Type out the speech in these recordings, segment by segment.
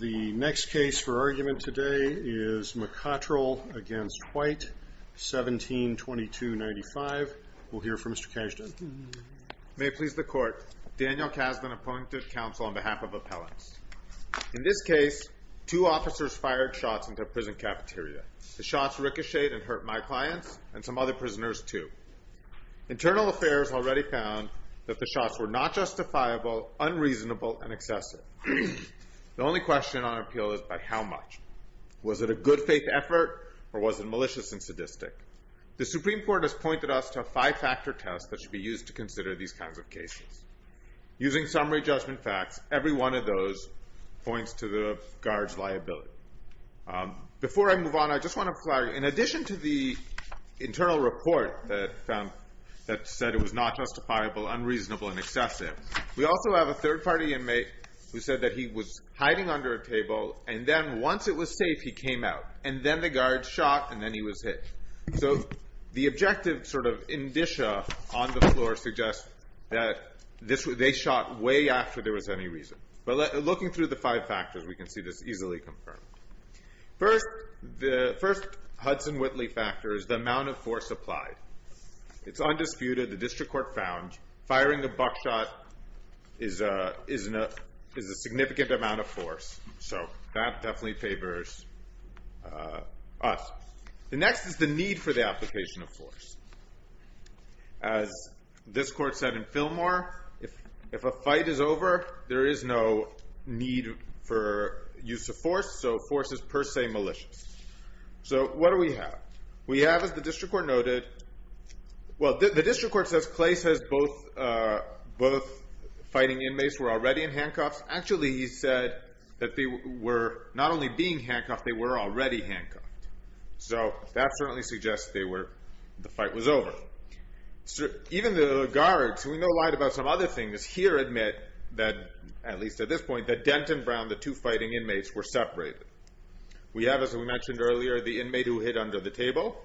The next case for argument today is McCottrell v. White, 1722-95. We'll hear from Mr. Kasdan. May it please the Court. Daniel Kasdan, appointed counsel on behalf of appellants. In this case, two officers fired shots into a prison cafeteria. The shots ricocheted and hurt my clients and some other prisoners too. Internal Affairs already found that the shots were not justifiable, unreasonable, and excessive. The only question on appeal is by how much? Was it a good faith effort or was it malicious and sadistic? The Supreme Court has pointed us to a five-factor test that should be used to consider these kinds of cases. Using summary judgment facts, every one of those points to the guard's liability. In addition to the internal report that said it was not justifiable, unreasonable, and excessive, we also have a third-party inmate who said that he was hiding under a table, and then once it was safe, he came out. And then the guard shot, and then he was hit. So the objective sort of indicia on the floor suggests that they shot way after there was any reason. But looking through the five factors, we can see this easily confirmed. First, the first Hudson-Whitley factor is the amount of force applied. It's undisputed. The District Court found firing a buckshot is a significant amount of force. So that definitely favors us. The next is the need for the application of force. As this Court said in Fillmore, if a fight is over, there is no need for use of force, so force is per se malicious. So what do we have? We have, as the District Court noted, well, the District Court says Clay says both fighting inmates were already in handcuffs. Actually, he said that they were not only being handcuffed, they were already handcuffed. So that certainly suggests the fight was over. So even the guards, who we know lied about some other things, here admit that, at least at this point, that Dent and Brown, the two fighting inmates, were separated. We have, as we mentioned earlier, the inmate who hit under the table.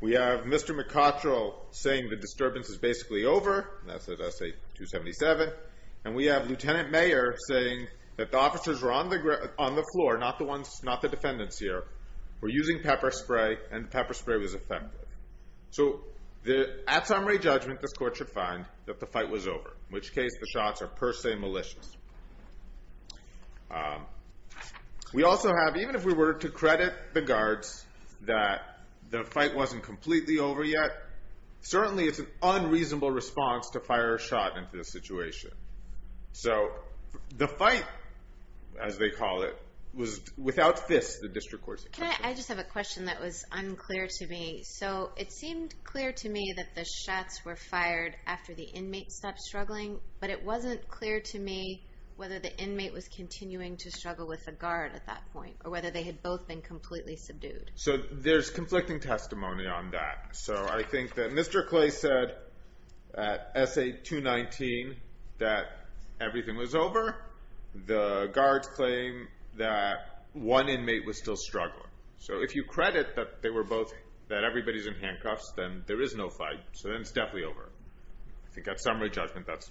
We have Mr. McCottrell saying the disturbance is basically over. That's at S.A. 277. And we have Lieutenant Mayer saying that the officers were on the floor, not the defendants here, were using pepper spray, and pepper spray was effective. So at summary judgment, this Court should find that the fight was over, in which case the shots are per se malicious. We also have, even if we were to credit the guards that the fight wasn't completely over yet, certainly it's an unreasonable response to fire a shot into this situation. So the fight, as they call it, was without fists, the District Court said. I just have a question that was unclear to me. So it seemed clear to me that the shots were fired after the inmate stopped struggling, but it wasn't clear to me whether the inmate was continuing to struggle with the guard at that point, or whether they had both been completely subdued. So there's conflicting testimony on that. So I think that Mr. Clay said at S.A. 219 that everything was over. The guards claim that one inmate was still struggling. So if you credit that they were both, that everybody's in handcuffs, then there is no fight. So then it's definitely over. I think at summary judgment, that's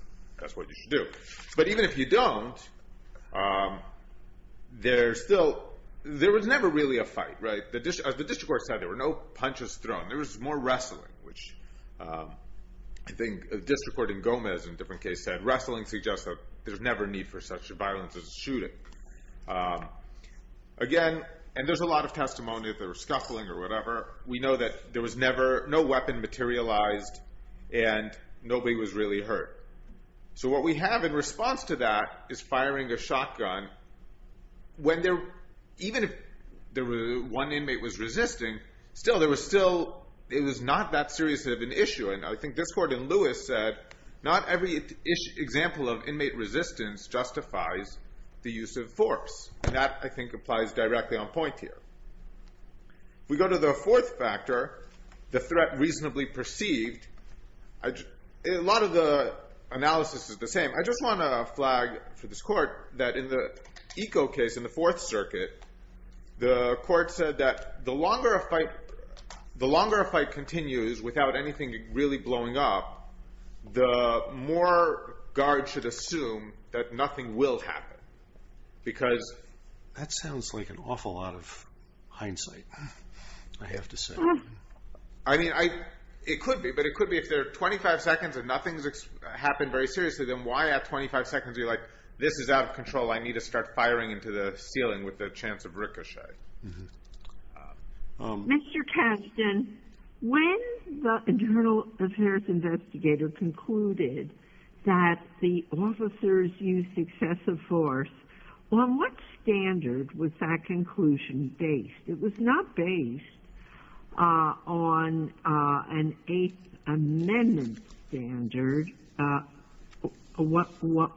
what you should do. But even if you don't, there was never really a fight, right? As the District Court said, there were no punches which I think the District Court in Gomez in a different case said, wrestling suggests that there's never need for such a violence as a shooting. Again, and there's a lot of testimony that there was scuffling or whatever. We know that there was never, no weapon materialized, and nobody was really hurt. So what we have in response to that is firing a shotgun when there, even if one inmate was resisting, still there was still, it was not that serious of an issue. And I think this court in Lewis said, not every example of inmate resistance justifies the use of force. And that I think applies directly on point here. We go to the fourth factor, the threat reasonably perceived. A lot of the analysis is the same. I want to flag for this court that in the Eco case in the Fourth Circuit, the court said that the longer a fight continues without anything really blowing up, the more guards should assume that nothing will happen. Because that sounds like an awful lot of hindsight, I have to say. I mean, it could be, but it could be if they're 25 seconds and nothing's happened very seriously, then why at 25 seconds be like, this is out of control, I need to start firing into the ceiling with a chance of ricochet. MS. GOTTLIEB Mr. Kasdan, when the internal affairs investigator concluded that the officers used excessive force, on what standard was that conclusion based? It was not based on an Eighth Amendment standard. What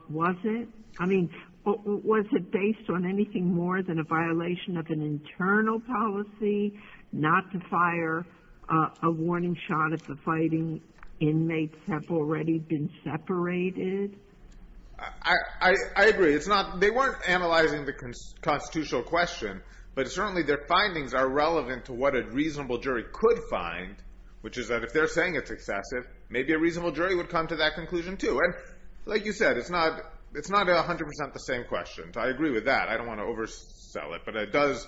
was it? I mean, was it based on anything more than a violation of an internal policy not to fire a warning shot if the fighting inmates have already been separated? MR. KASDAN I agree. It's not, they weren't analyzing the constitutional question, but certainly their findings are relevant to what a reasonable jury could find, which is that if they're saying it's excessive, maybe a reasonable jury would come to that conclusion, too. And like you said, it's not 100 percent the same question. I agree with that. I don't want to oversell it, but it does,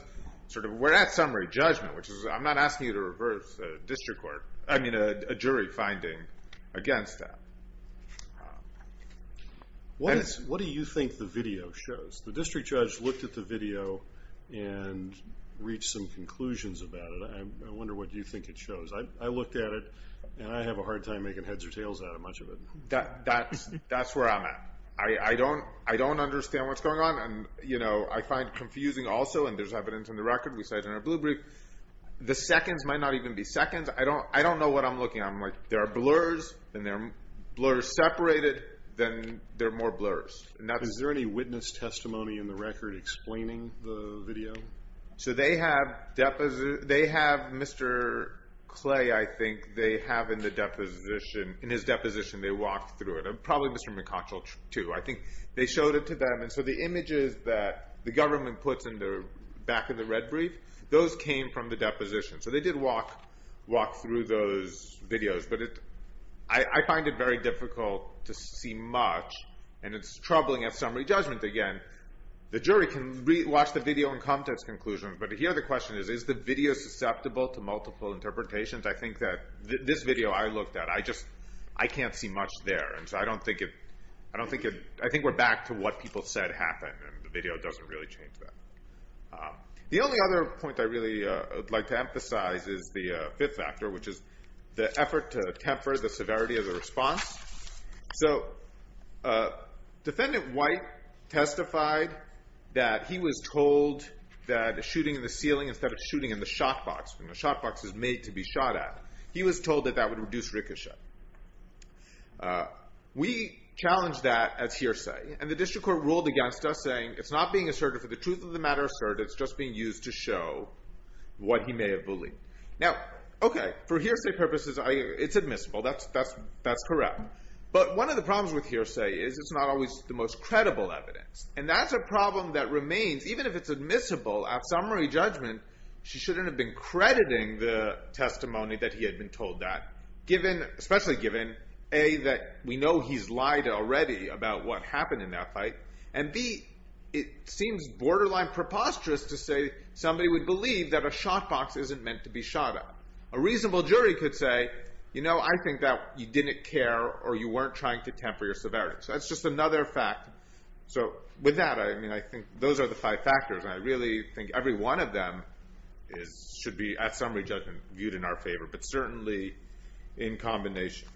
sort of, we're at summary judgment, which is, I'm not asking you to reverse a district court, I mean, a jury finding against that. MR. NEUMAN What do you think the video shows? The district judge looked at the video and reached some conclusions about it. I wonder what you think it shows. I looked at it, and I have a hard time making heads or tails out of much of it. MR. KASDAN That's where I'm at. I don't understand what's going on. And, you know, I find confusing also, and there's evidence in the record, we cited in our blue brief, the seconds might not even be seconds. I don't know what I'm looking at. I'm like, there are blurs, then there are blurs separated, then there are more blurs. MR. NEUMAN Is there any witness testimony in the record explaining the video? So they have Mr. Clay, I think, they have in the deposition, in his deposition, they walked through it, and probably Mr. McConchell, too. I think they showed it to them, and so the images that the government puts in the back of the red brief, those came from the deposition. So they did walk through those videos, but I find it very difficult to see much, and it's troubling at video and context conclusions, but here the question is, is the video susceptible to multiple interpretations? I think that this video I looked at, I just, I can't see much there, and so I don't think it, I don't think it, I think we're back to what people said happened, and the video doesn't really change that. The only other point I really would like to emphasize is the fifth factor, which is the effort to temper the severity of the response. So defendant White testified that he was told that a shooting in the ceiling instead of shooting in the shot box, when the shot box is made to be shot at, he was told that that would reduce ricochet. We challenged that as hearsay, and the district court ruled against us, saying it's not being asserted for the truth of the matter asserted, it's just being used to show what he may have done, but one of the problems with hearsay is it's not always the most credible evidence, and that's a problem that remains, even if it's admissible, at summary judgment, she shouldn't have been crediting the testimony that he had been told that, given, especially given, A, that we know he's lied already about what happened in that fight, and B, it seems borderline preposterous to say somebody would believe that a shot box isn't meant to be shot at. A reasonable jury could say, you know, I think that you didn't care or you weren't trying to temper your severity, so that's just another fact. So with that, I mean, I think those are the five factors, and I really think every one of them should be, at summary judgment, viewed in our favor, but certainly in combination.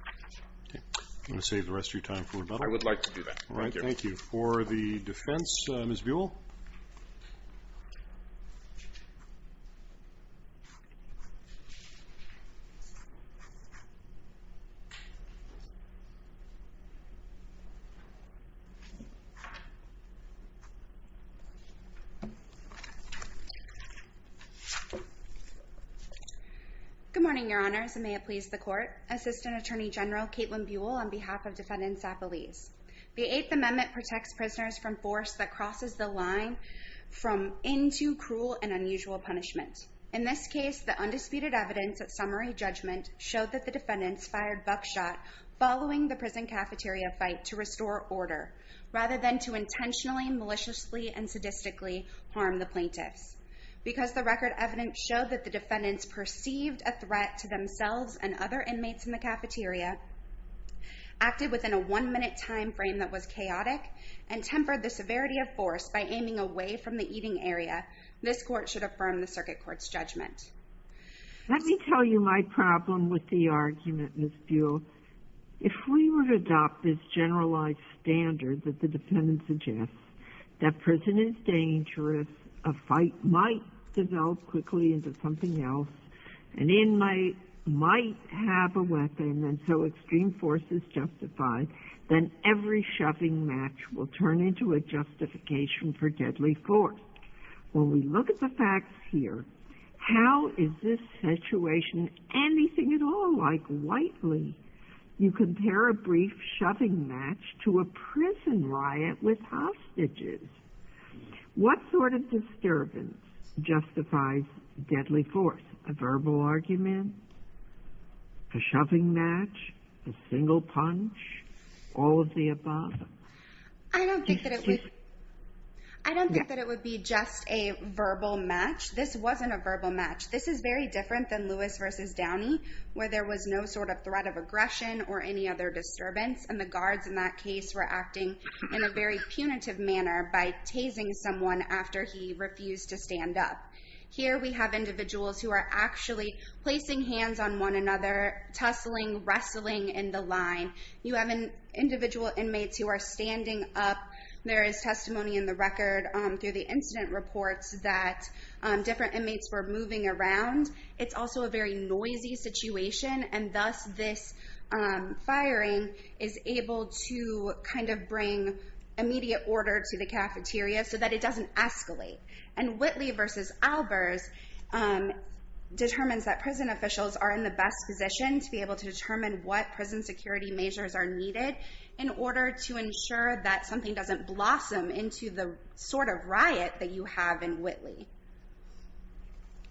I'm going to save the rest of your time for rebuttal. I would like to turn it over to you, Your Honor. Good morning, Your Honors, and may it please the Court. Assistant Attorney General Caitlin Buell on behalf of Defendants Appellees. The Eighth Amendment protects prisoners from force that summary judgment showed that the defendants fired buckshot following the prison cafeteria fight to restore order, rather than to intentionally, maliciously, and sadistically harm the plaintiffs. Because the record evidence showed that the defendants perceived a threat to themselves and other inmates in the cafeteria, acted within a one-minute time frame that was chaotic, and tempered the severity of force by aiming away from the eating area, this Court should affirm the Circuit Court's judgment. Let me tell you my problem with the argument, Ms. Buell. If we were to adopt this generalized standard that the defendant suggests, that prison is dangerous, a fight might develop quickly into something else, an inmate might have a weapon, and so extreme force is justified, then every shoving match will turn into a justification for deadly force. When we look at the facts here, how is this situation anything at all like Whiteley? You compare a brief shoving match to a prison riot with hostages. What sort of disturbance justifies deadly force? A verbal argument? A shoving match? A single punch? All of the above? I don't think that it would be just a verbal match. This wasn't a verbal match. This is very different than Lewis v. Downey, where there was no sort of threat of aggression, or any other disturbance, and the guards in that case were acting in a very punitive manner by tasing someone after he refused to stand up. Here we have individuals who are actually placing hands on one another, tussling, wrestling in the line. You have individual inmates who are standing up. There is testimony in the record through the incident reports that different inmates were moving around. It's also a very noisy situation, and thus this firing is able to kind of bring immediate order to the cafeteria so that it doesn't escalate. And Whitley v. Albers determines that prison officials are in the best position to be able to determine what prison security measures are needed in order to ensure that something doesn't blossom into the sort of riot that you have in Whitley.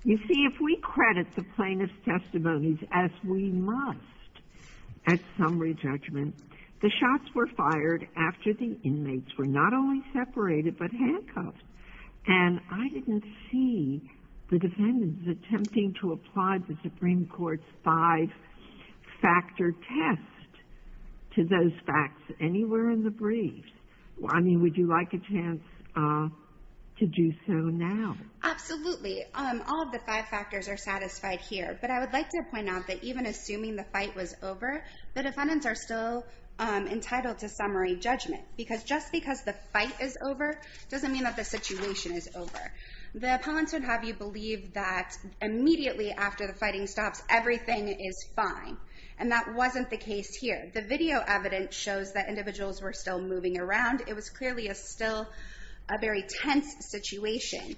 You see, if we credit the plaintiff's testimonies as we must at summary judgment, the shots were fired after the inmates were not only separated but handcuffed. And I didn't see the defendants attempting to apply the Supreme Court's five-factor test to those facts anywhere in the briefs. I mean, would you like a chance to do so now? Absolutely. All of the five factors are satisfied here, but I would like to point out that even assuming the fight was over, the defendants are still entitled to summary judgment, because just because the fight is over doesn't mean that the situation is over. The appellants would have you believe that immediately after the fighting stops, everything is fine. And that wasn't the case here. The video evidence shows that individuals were still moving around. It was clearly still a very tense situation.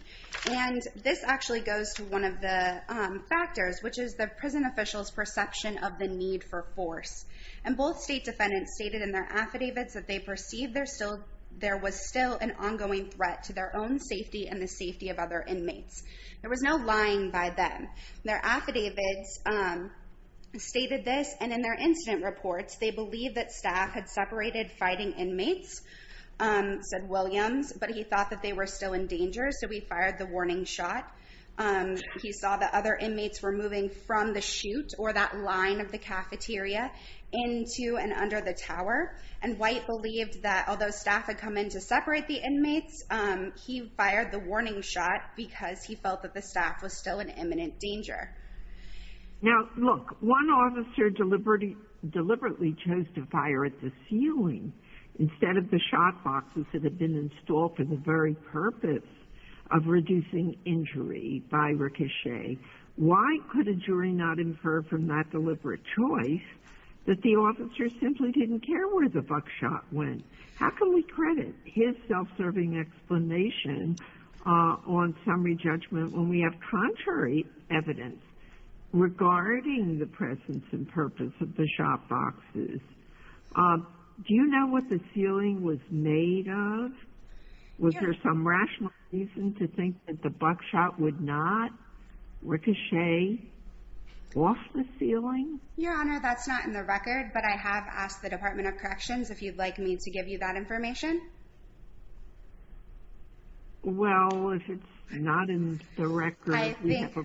And this actually goes to one of the factors, which is the prison officials' perception of the need for force. And both state defendants stated in their affidavits that they perceived there was still an ongoing threat to their own safety and the safety of other inmates. There was no lying by them. Their affidavits stated this, and in their incident reports, they believe that staff had separated fighting inmates, said Williams, but he thought that they were still in danger, so he fired the warning shot. He saw that other inmates were moving from the chute, or that although staff had come in to separate the inmates, he fired the warning shot because he felt that the staff was still in imminent danger. Now look, one officer deliberately chose to fire at the ceiling instead of the shot boxes that had been installed for the very purpose of reducing injury by ricochet. Why could a jury not infer from that deliberate choice that the officer simply didn't care where the buckshot went? How can we credit his self-serving explanation on summary judgment when we have contrary evidence regarding the presence and purpose of the shot boxes? Do you know what the ceiling was made of? Was there some rational reason to think that the buckshot would not ricochet off the ceiling? Your Honor, that's not in the record, but I have asked the Department of Corrections if you'd like me to give you that information. Well, if it's not in the record, we have a...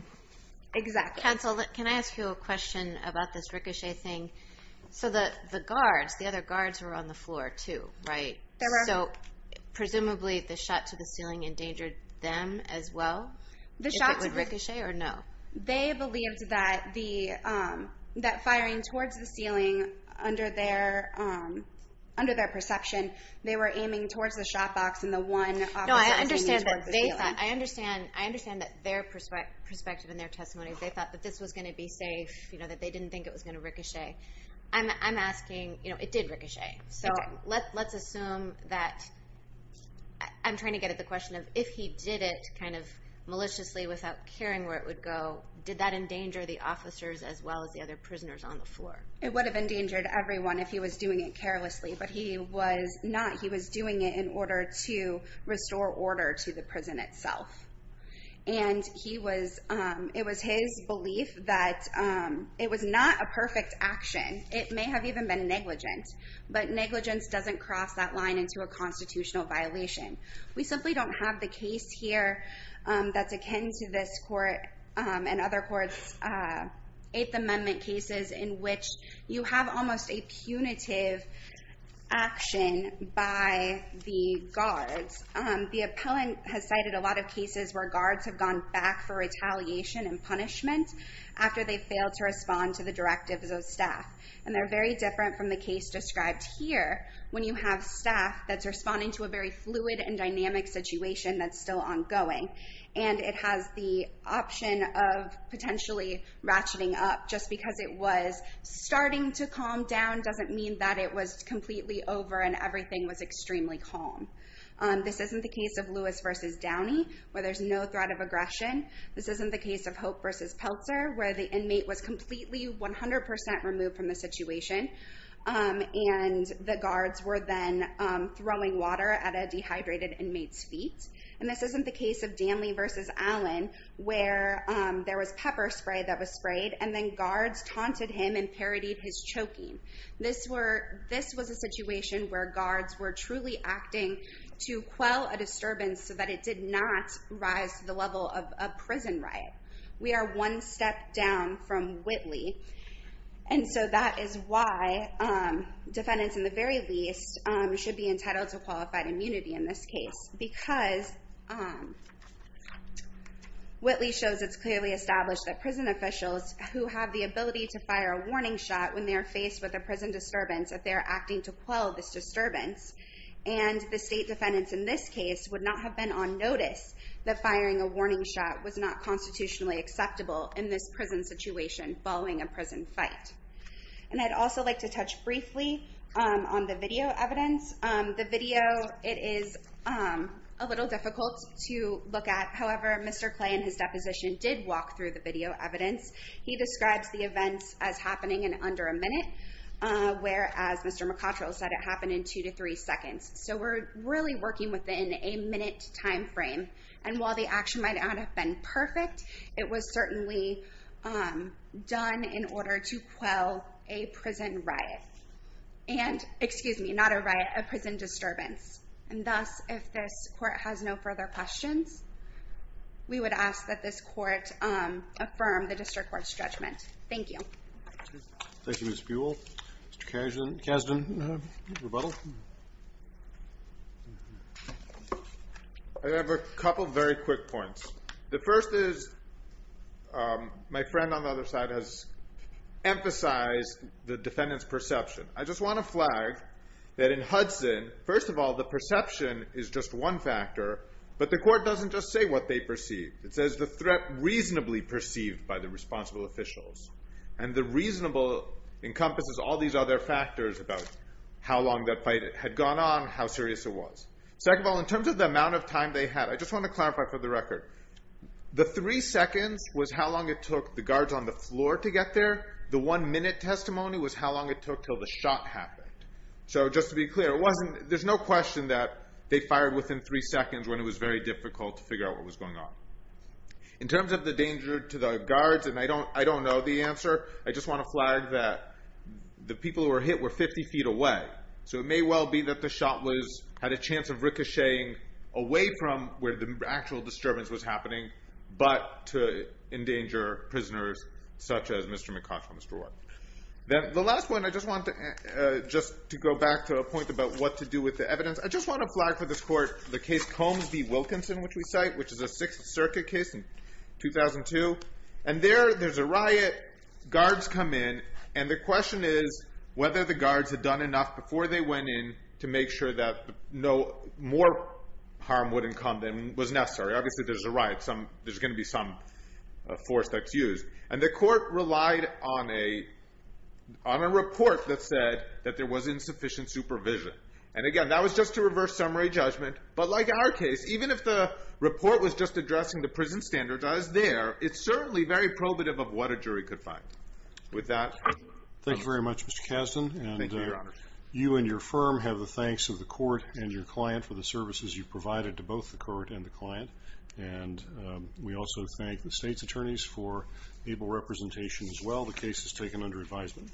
Exactly. Counsel, can I ask you a question about this ricochet thing? So the guards, the other guards were on the floor too, right? They were. So presumably the shot to the ceiling endangered them as well, if it would ricochet or no? They believed that firing towards the ceiling under their perception, they were aiming towards the shot box and the one... No, I understand that their perspective and their testimony, they thought that this was going to be safe, that they didn't think it was going to ricochet. I'm asking, it did ricochet. So let's assume that... I'm trying to get at the question of if he did it maliciously without caring where it would go, did that endanger the officers as well as the other prisoners on the floor? It would have endangered everyone if he was doing it carelessly, but he was not. He was doing it in order to restore order to the prison itself. And it was his belief that it was not a perfect action. It may have even been negligent, but negligence doesn't cross that line into a constitutional violation. We simply don't have the case here that's akin to this court and other courts' Eighth Amendment cases in which you have almost a punitive action by the guards. The appellant has cited a lot of cases where guards have gone back for retaliation and punishment after they failed to respond to the directives of staff. And they're very different from the case described here when you have staff that's responding to a very fluid and dynamic situation that's still ongoing. And it has the option of potentially ratcheting up just because it was starting to calm down doesn't mean that it was completely over and everything was extremely calm. This isn't the case of Lewis versus Downey, where there's no threat of aggression. This isn't the where the inmate was completely 100% removed from the situation. And the guards were then throwing water at a dehydrated inmate's feet. And this isn't the case of Downey versus Allen, where there was pepper spray that was sprayed and then guards taunted him and parodied his choking. This was a situation where guards were truly acting to quell a disturbance so that it did not rise to the level of a prison riot. We are one step down from Whitley. And so that is why defendants, in the very least, should be entitled to qualified immunity in this case. Because Whitley shows it's clearly established that prison officials who have the ability to fire a warning shot when they're faced with a prison disturbance, that they're acting to quell this disturbance, that firing a warning shot was not constitutionally acceptable in this prison situation following a prison fight. And I'd also like to touch briefly on the video evidence. The video, it is a little difficult to look at. However, Mr. Clay in his deposition did walk through the video evidence. He describes the events as happening in under a minute, whereas Mr. McCutchell said it happened in two to three seconds. So we're really working within a minute time frame. And while the action might not have been perfect, it was certainly done in order to quell a prison riot. And excuse me, not a riot, a prison disturbance. And thus, if this court has no further questions, we would ask that this court affirm the district court's judgment. Thank you. Thank you, Ms. Buell. Mr. Kasdan, rebuttal. I have a couple very quick points. The first is my friend on the other side has emphasized the defendant's perception. I just want to flag that in Hudson, first of all, the perception is just one factor, but the court doesn't just say what they perceive. It says the threat reasonably perceived by the responsible officials. And the reasonable encompasses all these other factors about how long that fight had gone on, how serious it was. Second of all, in terms of the amount of time they had, I just want to clarify for the record, the three seconds was how long it took the guards on the floor to get there. The one minute testimony was how long it took till the shot happened. So just to be clear, there's no question that they fired within three seconds when it was very difficult to figure out what was going on. In terms of the danger to the guards, and I don't know the answer, I just want to flag that the people who were hit were 50 feet away. So it may well be that the shot had a chance of getting away from where the actual disturbance was happening, but to endanger prisoners such as Mr. McCosh on the floor. The last one, I just want to go back to a point about what to do with the evidence. I just want to flag for this court the case Combs v. Wilkinson, which we cite, which is a Sixth Circuit case in 2002. And there, there's a riot, guards come in, and the question is whether the guards had done enough before they went in to make sure that more harm wouldn't come than was necessary. Obviously, there's a riot, there's going to be some force that's used. And the court relied on a report that said that there was insufficient supervision. And again, that was just to reverse summary judgment. But like our case, even if the report was just addressing the prison standards, I was there, it's certainly very probative of what a jury could find. With that... Thank you very much, Mr. Kasdan. Thank you, Your Honor. And you and your firm have the thanks of the court and your client for the services you've provided to both the court and the client. And we also thank the state's attorneys for able representation as well. The case is taken under advisement.